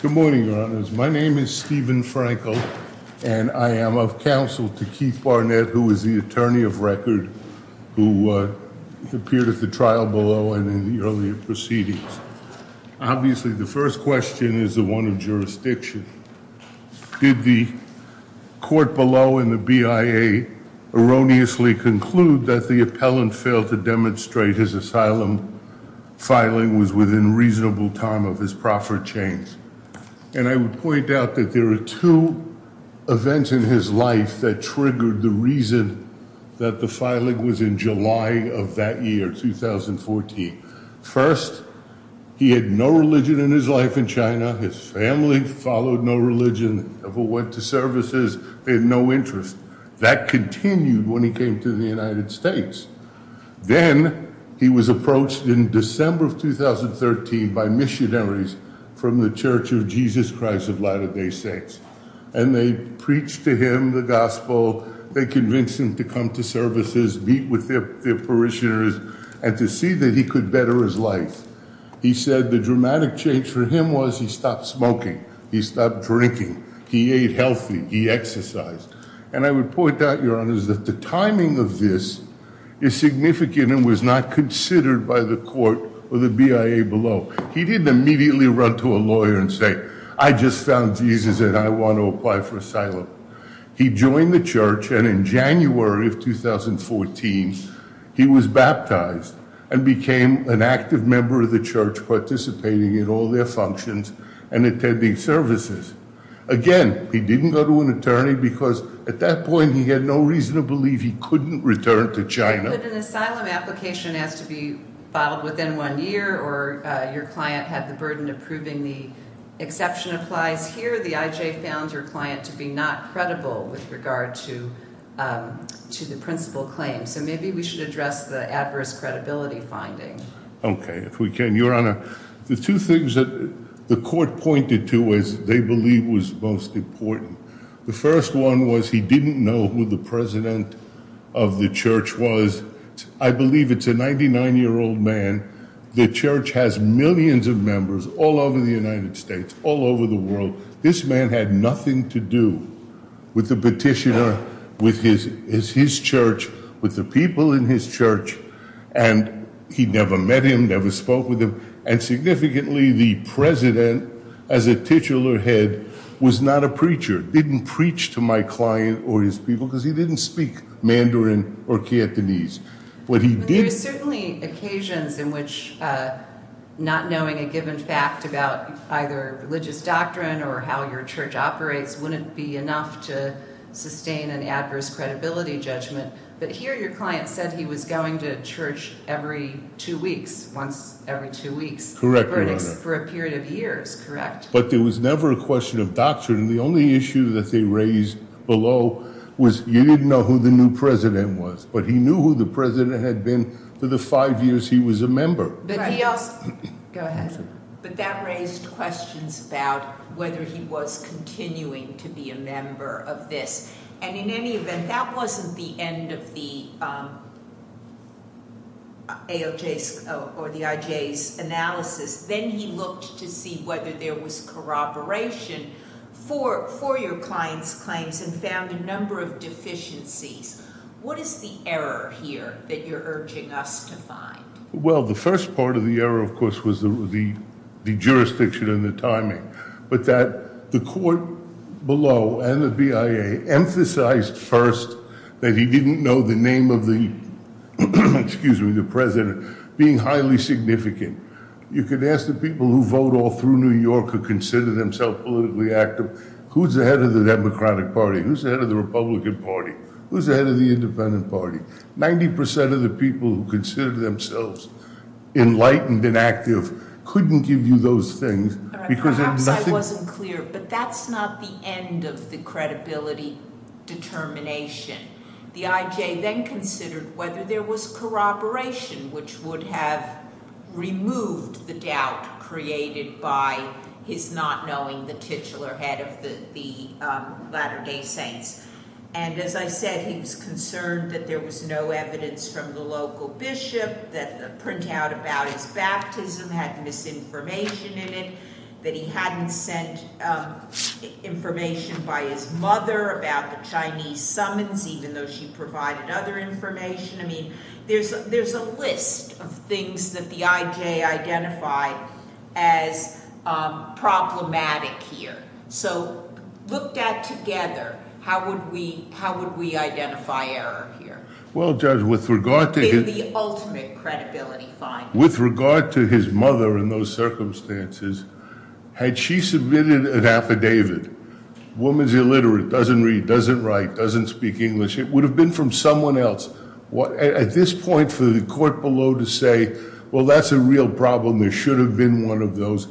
Good morning, your honors. My name is Stephen Frankel, and I am of counsel to Keith Barnett, who is the attorney of record, who appeared at the trial below and in the earlier proceedings. Obviously, the first question is the one of jurisdiction. Did the court below in the BIA erroneously conclude that the appellant failed to demonstrate his asylum filing was within reasonable time of his proffer change? And I would point out that there are two events in his life that triggered the reason that the filing was in July of that year, 2014. First, he had no religion in his life in China. His family followed no religion, never went to services. They had no when he came to the United States. Then he was approached in December of 2013 by missionaries from the Church of Jesus Christ of Latter-day Saints, and they preached to him the gospel. They convinced him to come to services, meet with their parishioners, and to see that he could better his life. He said the dramatic change for him was he stopped smoking, he stopped drinking, he ate healthy, he exercised. And I would point out, Your Honors, that the timing of this is significant and was not considered by the court or the BIA below. He didn't immediately run to a lawyer and say, I just found Jesus and I want to apply for asylum. He joined the church, and in January of 2014, he was baptized and became an active member of the church, participating in all their functions and attending services. Again, he didn't go to an attorney because at that point, he had no reason to believe he couldn't return to China. But an asylum application has to be filed within one year, or your client had the burden of proving the exception applies here. The IJ found your client to be not credible with regard to the principal claim. So maybe we should address the adverse credibility finding. Okay, if we can. Your Honor, the two things that the court pointed to as they believe was most important. The first one was he didn't know who the president of the church was. I believe it's a 99-year-old man. The church has millions of members all over the United States, all over the world. This man had nothing to do with the petitioner, with his church, with the people in his church, and he never met him, never spoke with him. And significantly, the president, as a titular head, was not a preacher, didn't preach to my client or his people because he didn't speak Mandarin or Cantonese. There are certainly occasions in which not knowing a given fact about either religious doctrine or how your church operates wouldn't be enough to get a verdict. But there was never a question of doctrine. The only issue that they raised below was you didn't know who the new president was, but he knew who the president had been for the five years he was a member. But that raised questions about whether he was continuing to be a member of this. And in any event, that wasn't the end of the IJ's analysis. Then he looked to see whether there was corroboration for your client's claims and found a number of deficiencies. What is the error here that you're urging us to find? Well, the first part of the jurisdiction and the timing, but that the court below and the BIA emphasized first that he didn't know the name of the, excuse me, the president being highly significant. You could ask the people who vote all through New York or consider themselves politically active, who's the head of the Democratic Party? Who's the head of the Republican Party? Who's the head of the Independent Party? Ninety percent of the people who consider themselves enlightened and active couldn't give you those things. Perhaps I wasn't clear, but that's not the end of the credibility determination. The IJ then considered whether there was corroboration, which would have removed the doubt created by his not knowing the titular head of the Latter-day Saints. And as I said, he was concerned that there was no evidence from the local bishop that the printout about his baptism had misinformation in it, that he hadn't sent information by his mother about the Chinese summons, even though she provided other information. I mean, there's a list of things that the IJ identified as problematic here. So, looked at together, how would we identify error here? Well, Judge, with regard to his mother in those circumstances, had she submitted an affidavit, woman's illiterate, doesn't read, doesn't write, doesn't speak English, it would have been from someone else. At this point for the court below to say, well, that's a real problem. There should have been one of those.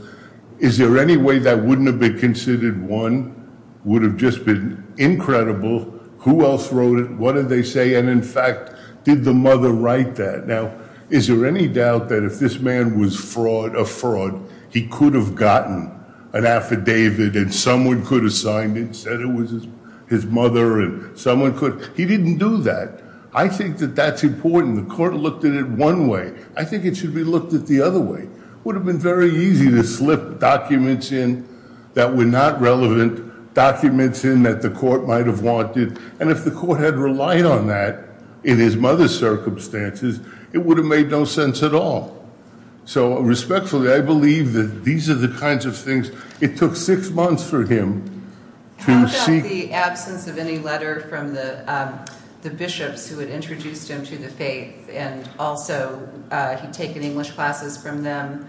Is there any way that wouldn't have been considered one? Would have just been incredible. Who else wrote it? What did they say? And in fact, did the mother write that? Now, is there any doubt that if this man was a fraud, he could have gotten an affidavit and someone could have signed it, said it was his mother and someone could. He didn't do that. I think that that's important. The court looked at it one way. I think it should be looked at the other way. Would have been very easy to slip documents in that were not relevant, documents in that the court might have wanted. And if the court had relied on that in his mother's circumstances, it would have made no sense at all. So respectfully, I believe that these are the kinds of things. It took six months for him. How about the absence of any letter from the bishops who had introduced him to the faith? And also he'd taken English classes from them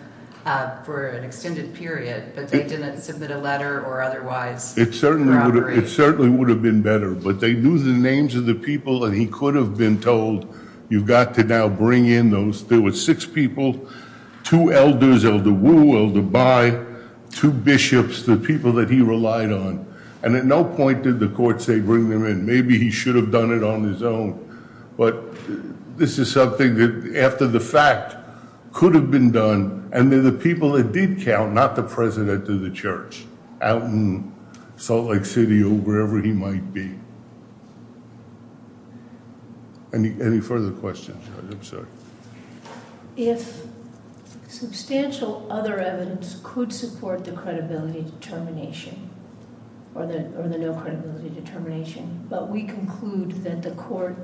for an extended period, but they didn't submit a letter or otherwise. It certainly would have been better, but they knew the names of the people that he could have been told. You've got to now bring in those. There were six people, two elders, Elder Wu, Elder Bai, two bishops, the people that he relied on. And at no point did the court say bring them in. Maybe he should have done it on his own, but this is something that after the fact could have been done and they're the people that did count, not the president of the church out in Salt Lake City or wherever he might be. Any further questions? I'm sorry. If substantial other evidence could support the credibility determination or the no credibility determination, but we conclude that the court,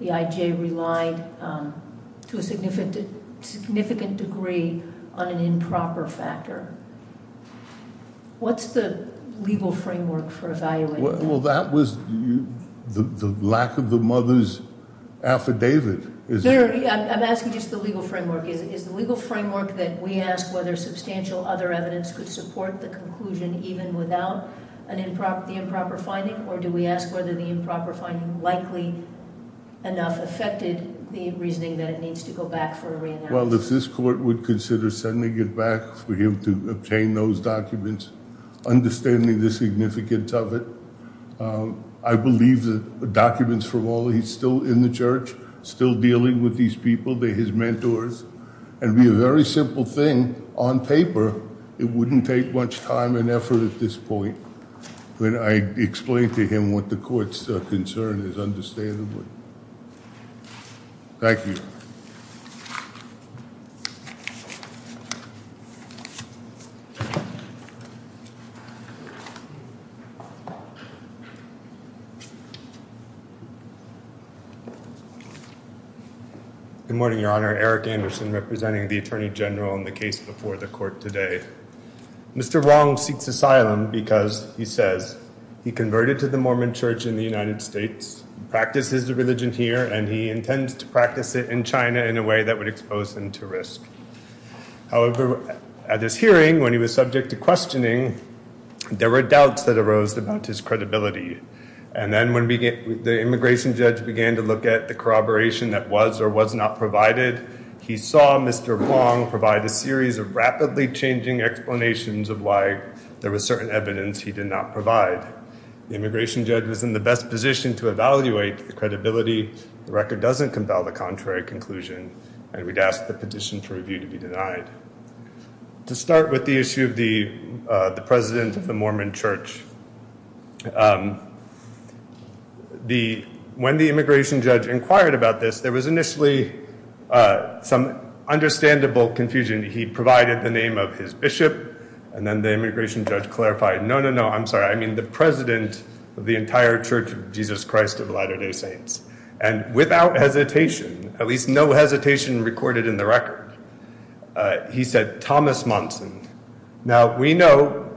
the IJ relied to a significant degree on an improper factor. What's the legal framework for evaluating that? Well, that was the lack of the mother's affidavit. I'm asking just the legal framework. Is the legal framework that we ask whether substantial other evidence could support the conclusion even without the improper finding, or do we ask whether the improper finding likely enough affected the reasoning that it needs to go back for a re-announcement? Well, if this court would consider sending it back for him to obtain those documents, understanding the significance of it, I believe the documents from all he's still in the church, still dealing with these people, they're his mentors, and be a very simple thing on paper. It wouldn't take much time and effort at this point, but I explained to him what the court's concern is, understandably. Thank you. Good morning, Your Honor. Eric Anderson representing the Attorney General in the case before the court today. Mr. Wong seeks asylum because he says he converted to the Mormon church in the United States, practices the religion here, and he intends to practice in China in a way that would expose him to risk. However, at this hearing, when he was subject to questioning, there were doubts that arose about his credibility. And then when the immigration judge began to look at the corroboration that was or was not provided, he saw Mr. Wong provide a series of rapidly changing explanations of why there was certain evidence he did not provide. The immigration judge was in the best position to evaluate the credibility. The record doesn't the contrary conclusion, and we'd ask the petition to review to be denied. To start with the issue of the president of the Mormon church, when the immigration judge inquired about this, there was initially some understandable confusion. He provided the name of his bishop, and then the immigration judge clarified, no, no, no, I'm sorry, I mean the president of the entire Church of Jesus Christ of Latter-day Saints. And without hesitation, at least no hesitation recorded in the record, he said Thomas Monson. Now we know,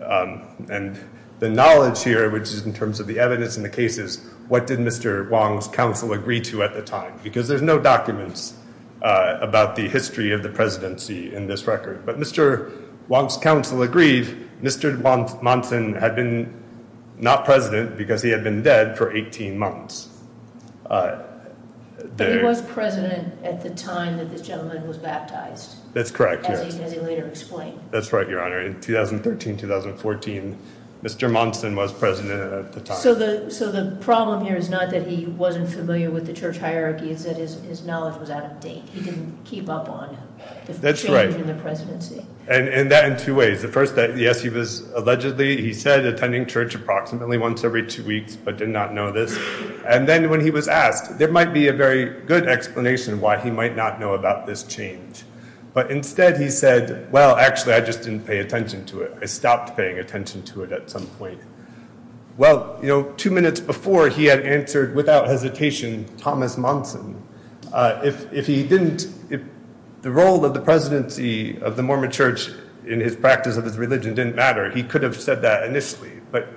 and the knowledge here, which is in terms of the evidence in the cases, what did Mr. Wong's counsel agree to at the time? Because there's no documents about the history of the presidency in this record. But Mr. Wong's counsel agreed Mr. Monson had been not president because he had been dead for 18 months. But he was president at the time that this gentleman was baptized. That's correct. As he later explained. That's right, Your Honor. In 2013-2014, Mr. Monson was president at the time. So the problem here is not that he wasn't familiar with the church hierarchy, it's that his knowledge was out of date. He didn't keep up on the change in the presidency. And that in two ways. The first, yes, he was allegedly, he said, attending church approximately once every two weeks, but did not know this. And then when he was asked, there might be a very good explanation why he might not know about this change. But instead he said, well, actually, I just didn't pay attention to it. I stopped paying attention to it at some point. Well, you know, two minutes before he had answered without hesitation Thomas Monson, if he didn't, if the role of the presidency of the Mormon church in his practice of his religion didn't matter, he could have said that initially, but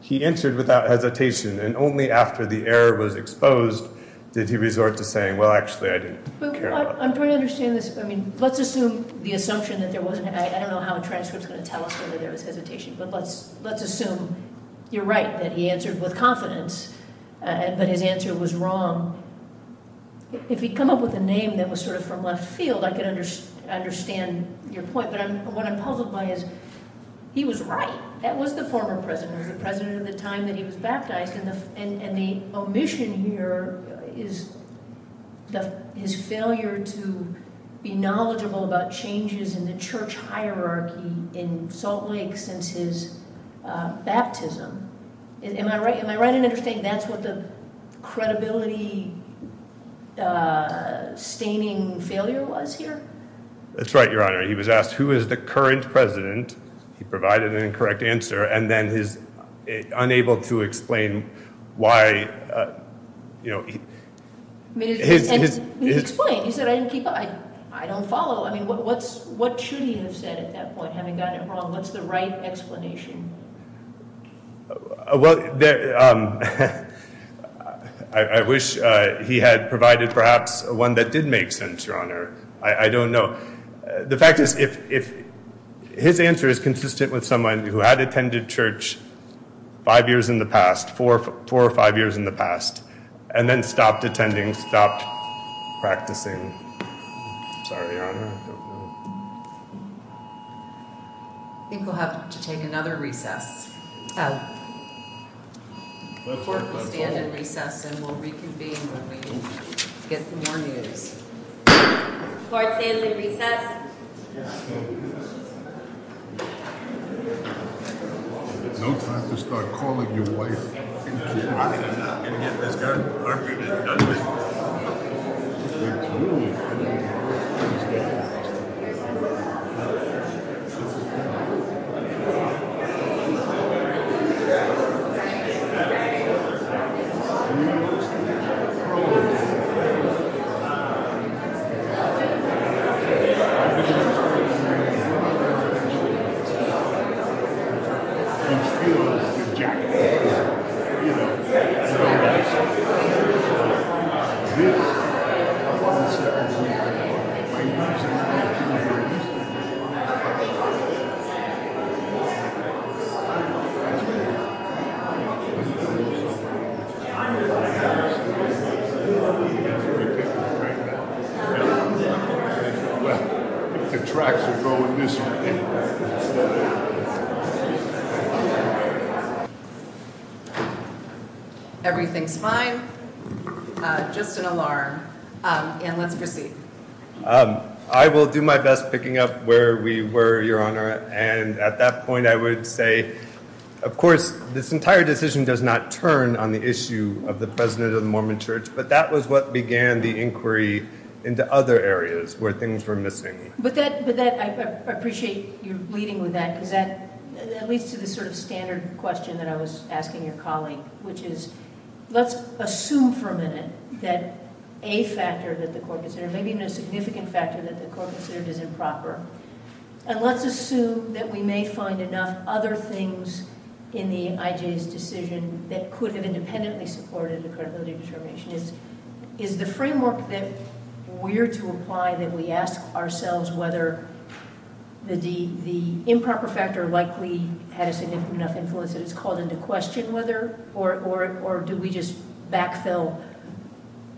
he answered without hesitation. And only after the error was exposed, did he resort to saying, well, actually, I didn't care. I'm trying to understand this. I mean, let's assume the assumption that there wasn't, I don't know how a transcript is going to tell us whether there was hesitation, but let's, assume you're right, that he answered with confidence, but his answer was wrong. If he'd come up with a name that was sort of from left field, I could understand your point, but what I'm puzzled by is he was right. That was the former president of the time that he was baptized. And the omission here is his failure to be knowledgeable about changes in the church hierarchy in Salt Lake since his baptism. Am I right? Am I right in understanding that's what the credibility staining failure was here? That's right, Your Honor. He was asked, who is the current president? He provided an incorrect answer. And then his unable to explain why, you know, I don't follow. I mean, what should he have said at that point, having gotten it wrong? What's the right explanation? Well, I wish he had provided perhaps one that did make sense, Your Honor. I don't know. The fact is, if his answer is consistent with someone who had attended church five years in the past, four or five years in the past, and then stopped attending, stopped practicing. I'm sorry, Your Honor. I think we'll have to take another recess. Oh, the court will stand in recess and we'll reconvene when we get more news. Court's in recess. I will do my best picking up where we were, Your Honor. And at that point, I would say of course, this entire decision does not turn on the issue of the president of the Mormon church, but that was what began the inquiry into other areas where things were missing. But I appreciate you leading with that because that leads to the sort of standard question that I was asking your colleague, which is, let's assume for a minute that a factor that the court considered, maybe even a significant factor that the court considered is improper. And let's assume that we may find enough other things in the IJ's decision that could have independently supported a credibility determination. Is the framework that we're to apply that we ask ourselves whether the improper factor likely had a significant enough influence that it's called into question, or do we just backfill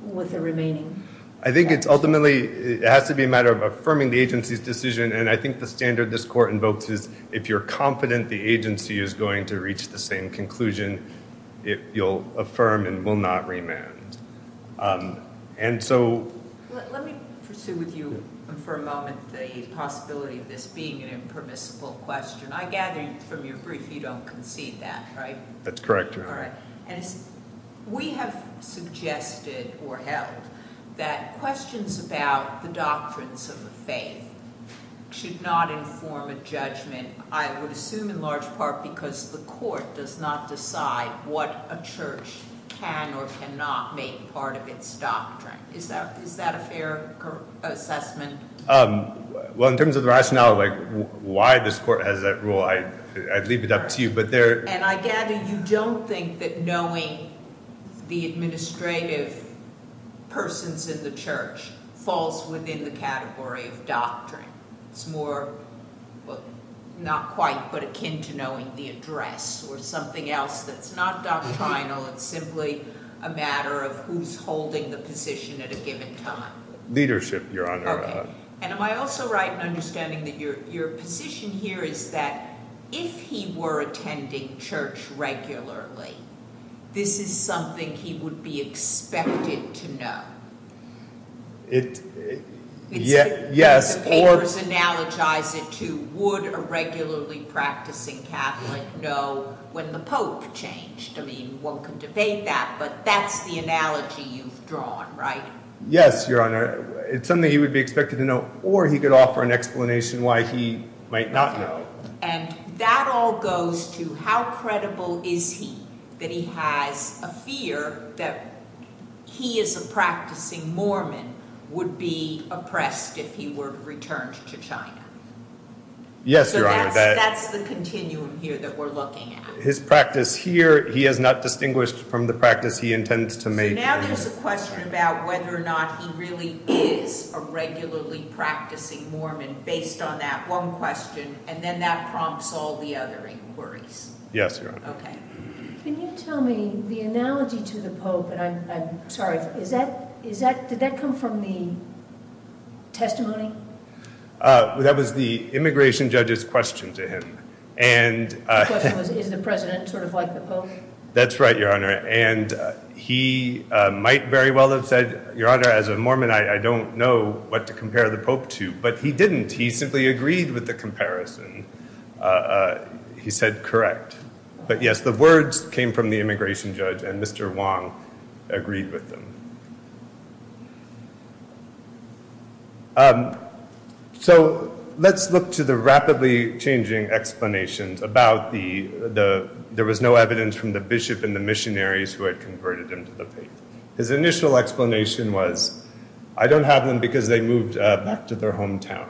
with the remaining? I think it's ultimately, it has to be a matter of affirming the agency's decision. And I think the standard this court invokes is if you're confident the agency is going to reach the same conclusion, you'll affirm and will not remand. Let me pursue with you for a moment, the possibility of this being an impermissible question. I gather from your brief, you don't concede that, right? That's correct. All right. And we have suggested or held that questions about the doctrines of the faith should not inform a judgment, I would assume in large part, because the court does not decide what a church can or cannot make part of its doctrine. Is that a fair assessment? Well, in terms of the rationale of why this court has that rule, I'd leave it up to you. And I gather you don't think that knowing the administrative persons in the church falls within the category of doctrine. It's more, well, not quite, but akin to knowing the address or something else that's not doctrinal. It's simply a matter of who's holding the position at a given time. Leadership, Your Honor. Okay. And am I also right in understanding that your attending church regularly? This is something he would be expected to know. Yes, or... The papers analogize it to, would a regularly practicing Catholic know when the Pope changed? I mean, one can debate that, but that's the analogy you've drawn, right? Yes, Your Honor. It's something he would be expected to know, or he could offer an explanation why he might not know. And that all goes to how credible is he that he has a fear that he as a practicing Mormon would be oppressed if he were returned to China? Yes, Your Honor. That's the continuum here that we're looking at. His practice here, he has not distinguished from the practice he intends to make. So now there's a question about whether or not he really is a regularly practicing Mormon based on that one question, and then that prompts all the other inquiries. Yes, Your Honor. Okay. Can you tell me the analogy to the Pope? And I'm sorry, is that, is that, did that come from the testimony? That was the immigration judge's question to him. And the question was, is the President sort of like the Pope? That's right, Your Honor. And he might very well have said, Your Honor, as a Mormon, I don't know what to compare the Pope to. But he didn't. He simply agreed with the comparison. He said, correct. But yes, the words came from the immigration judge, and Mr. Wong agreed with them. So let's look to the rapidly changing explanations about the, there was no evidence from the bishop and the missionaries who had converted him to the faith. His initial explanation was, I don't have them because they moved back to their hometown.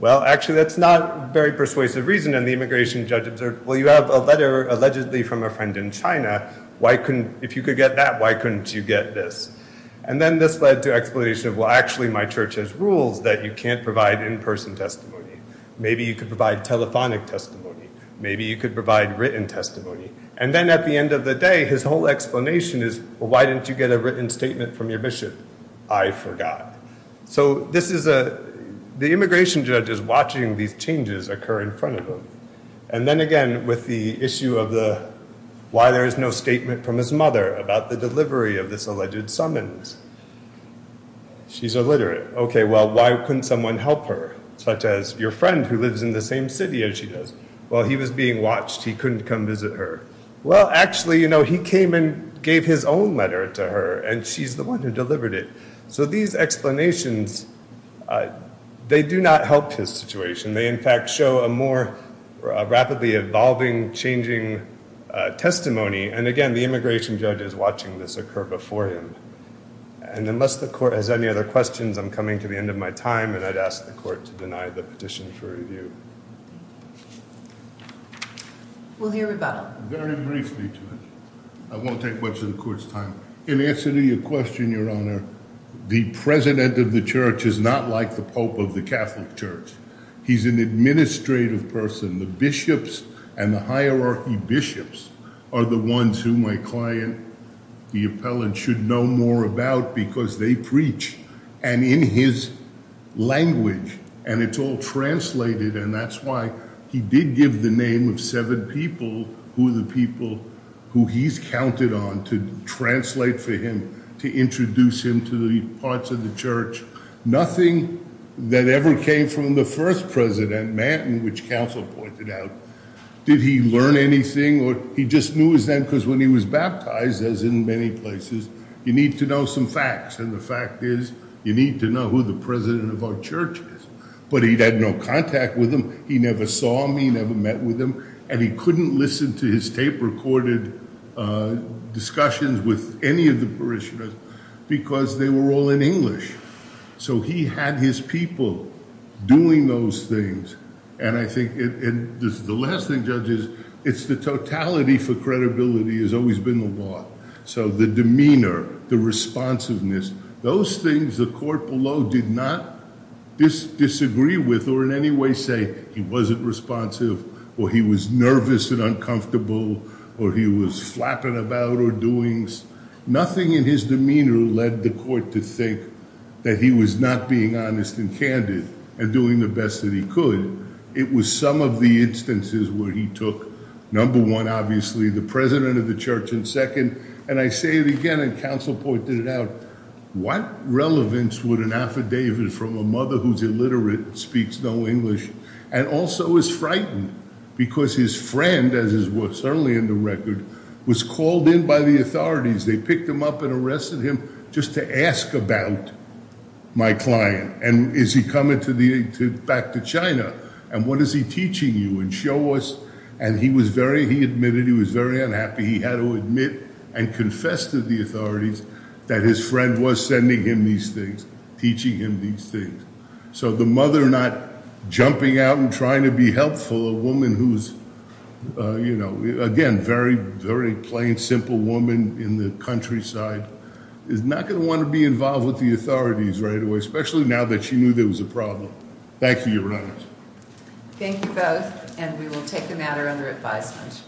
Well, actually, that's not a very persuasive reason. And the immigration judge observed, well, you have a letter allegedly from a friend in China. Why couldn't, if you could get that, why couldn't you get this? And then this led to explanation of, well, actually, my church has rules that you can't provide in-person testimony. Maybe you could provide telephonic testimony. Maybe you could provide written testimony. And then at the end of the day, his whole explanation is, well, why didn't you get a written statement from your bishop? I forgot. So this is a, the immigration judge is watching these changes occur in front of him. And then again, with the issue of the, why there is no statement from his mother about the delivery of this alleged summons? She's illiterate. Okay, well, why couldn't someone help her, such as your friend who lives in the same city as she does? Well, he was being watched. He couldn't come visit her. Well, actually, he came and gave his own letter to her, and she's the one who delivered it. So these explanations, they do not help his situation. They, in fact, show a more rapidly evolving, changing testimony. And again, the immigration judge is watching this occur before him. And unless the court has any other questions, I'm coming to the end of my time, and I'd ask the court to deny the petition for I won't take much of the court's time. In answer to your question, Your Honor, the president of the church is not like the Pope of the Catholic Church. He's an administrative person. The bishops and the hierarchy bishops are the ones who my client, the appellant, should know more about because they preach, and in his language, and it's all translated, and that's why he did give the name of seven people who are the people who he's counted on to translate for him, to introduce him to the parts of the church. Nothing that ever came from the first president, Manton, which counsel pointed out. Did he learn anything, or he just knew as then because when he was baptized, as in many places, you need to know some facts, and the fact is you need to know who the president of our church is, but he'd had no contact with them. He never saw me, never met with him, and he couldn't listen to his tape-recorded discussions with any of the parishioners because they were all in English. So he had his people doing those things, and I think, and this is the last thing, judges, it's the totality for things the court below did not disagree with or in any way say he wasn't responsive, or he was nervous and uncomfortable, or he was flapping about or doings. Nothing in his demeanor led the court to think that he was not being honest and candid and doing the best that he could. It was some of the instances where he took, number one, obviously the president of the church, and second, and I say relevance with an affidavit from a mother who's illiterate, speaks no English, and also is frightened because his friend, as is certainly in the record, was called in by the authorities. They picked him up and arrested him just to ask about my client, and is he coming back to China, and what is he teaching you, and show us, and he was very, he admitted he was very unhappy. He had to admit and confess to the authorities that his friend was sending him these things, teaching him these things. So the mother not jumping out and trying to be helpful, a woman who's, you know, again, very, very plain, simple woman in the countryside, is not going to want to be involved with the authorities right away, especially now that she knew there was a problem. Thank you, Your Honors. Thank you both, and we will take the matter under advisement.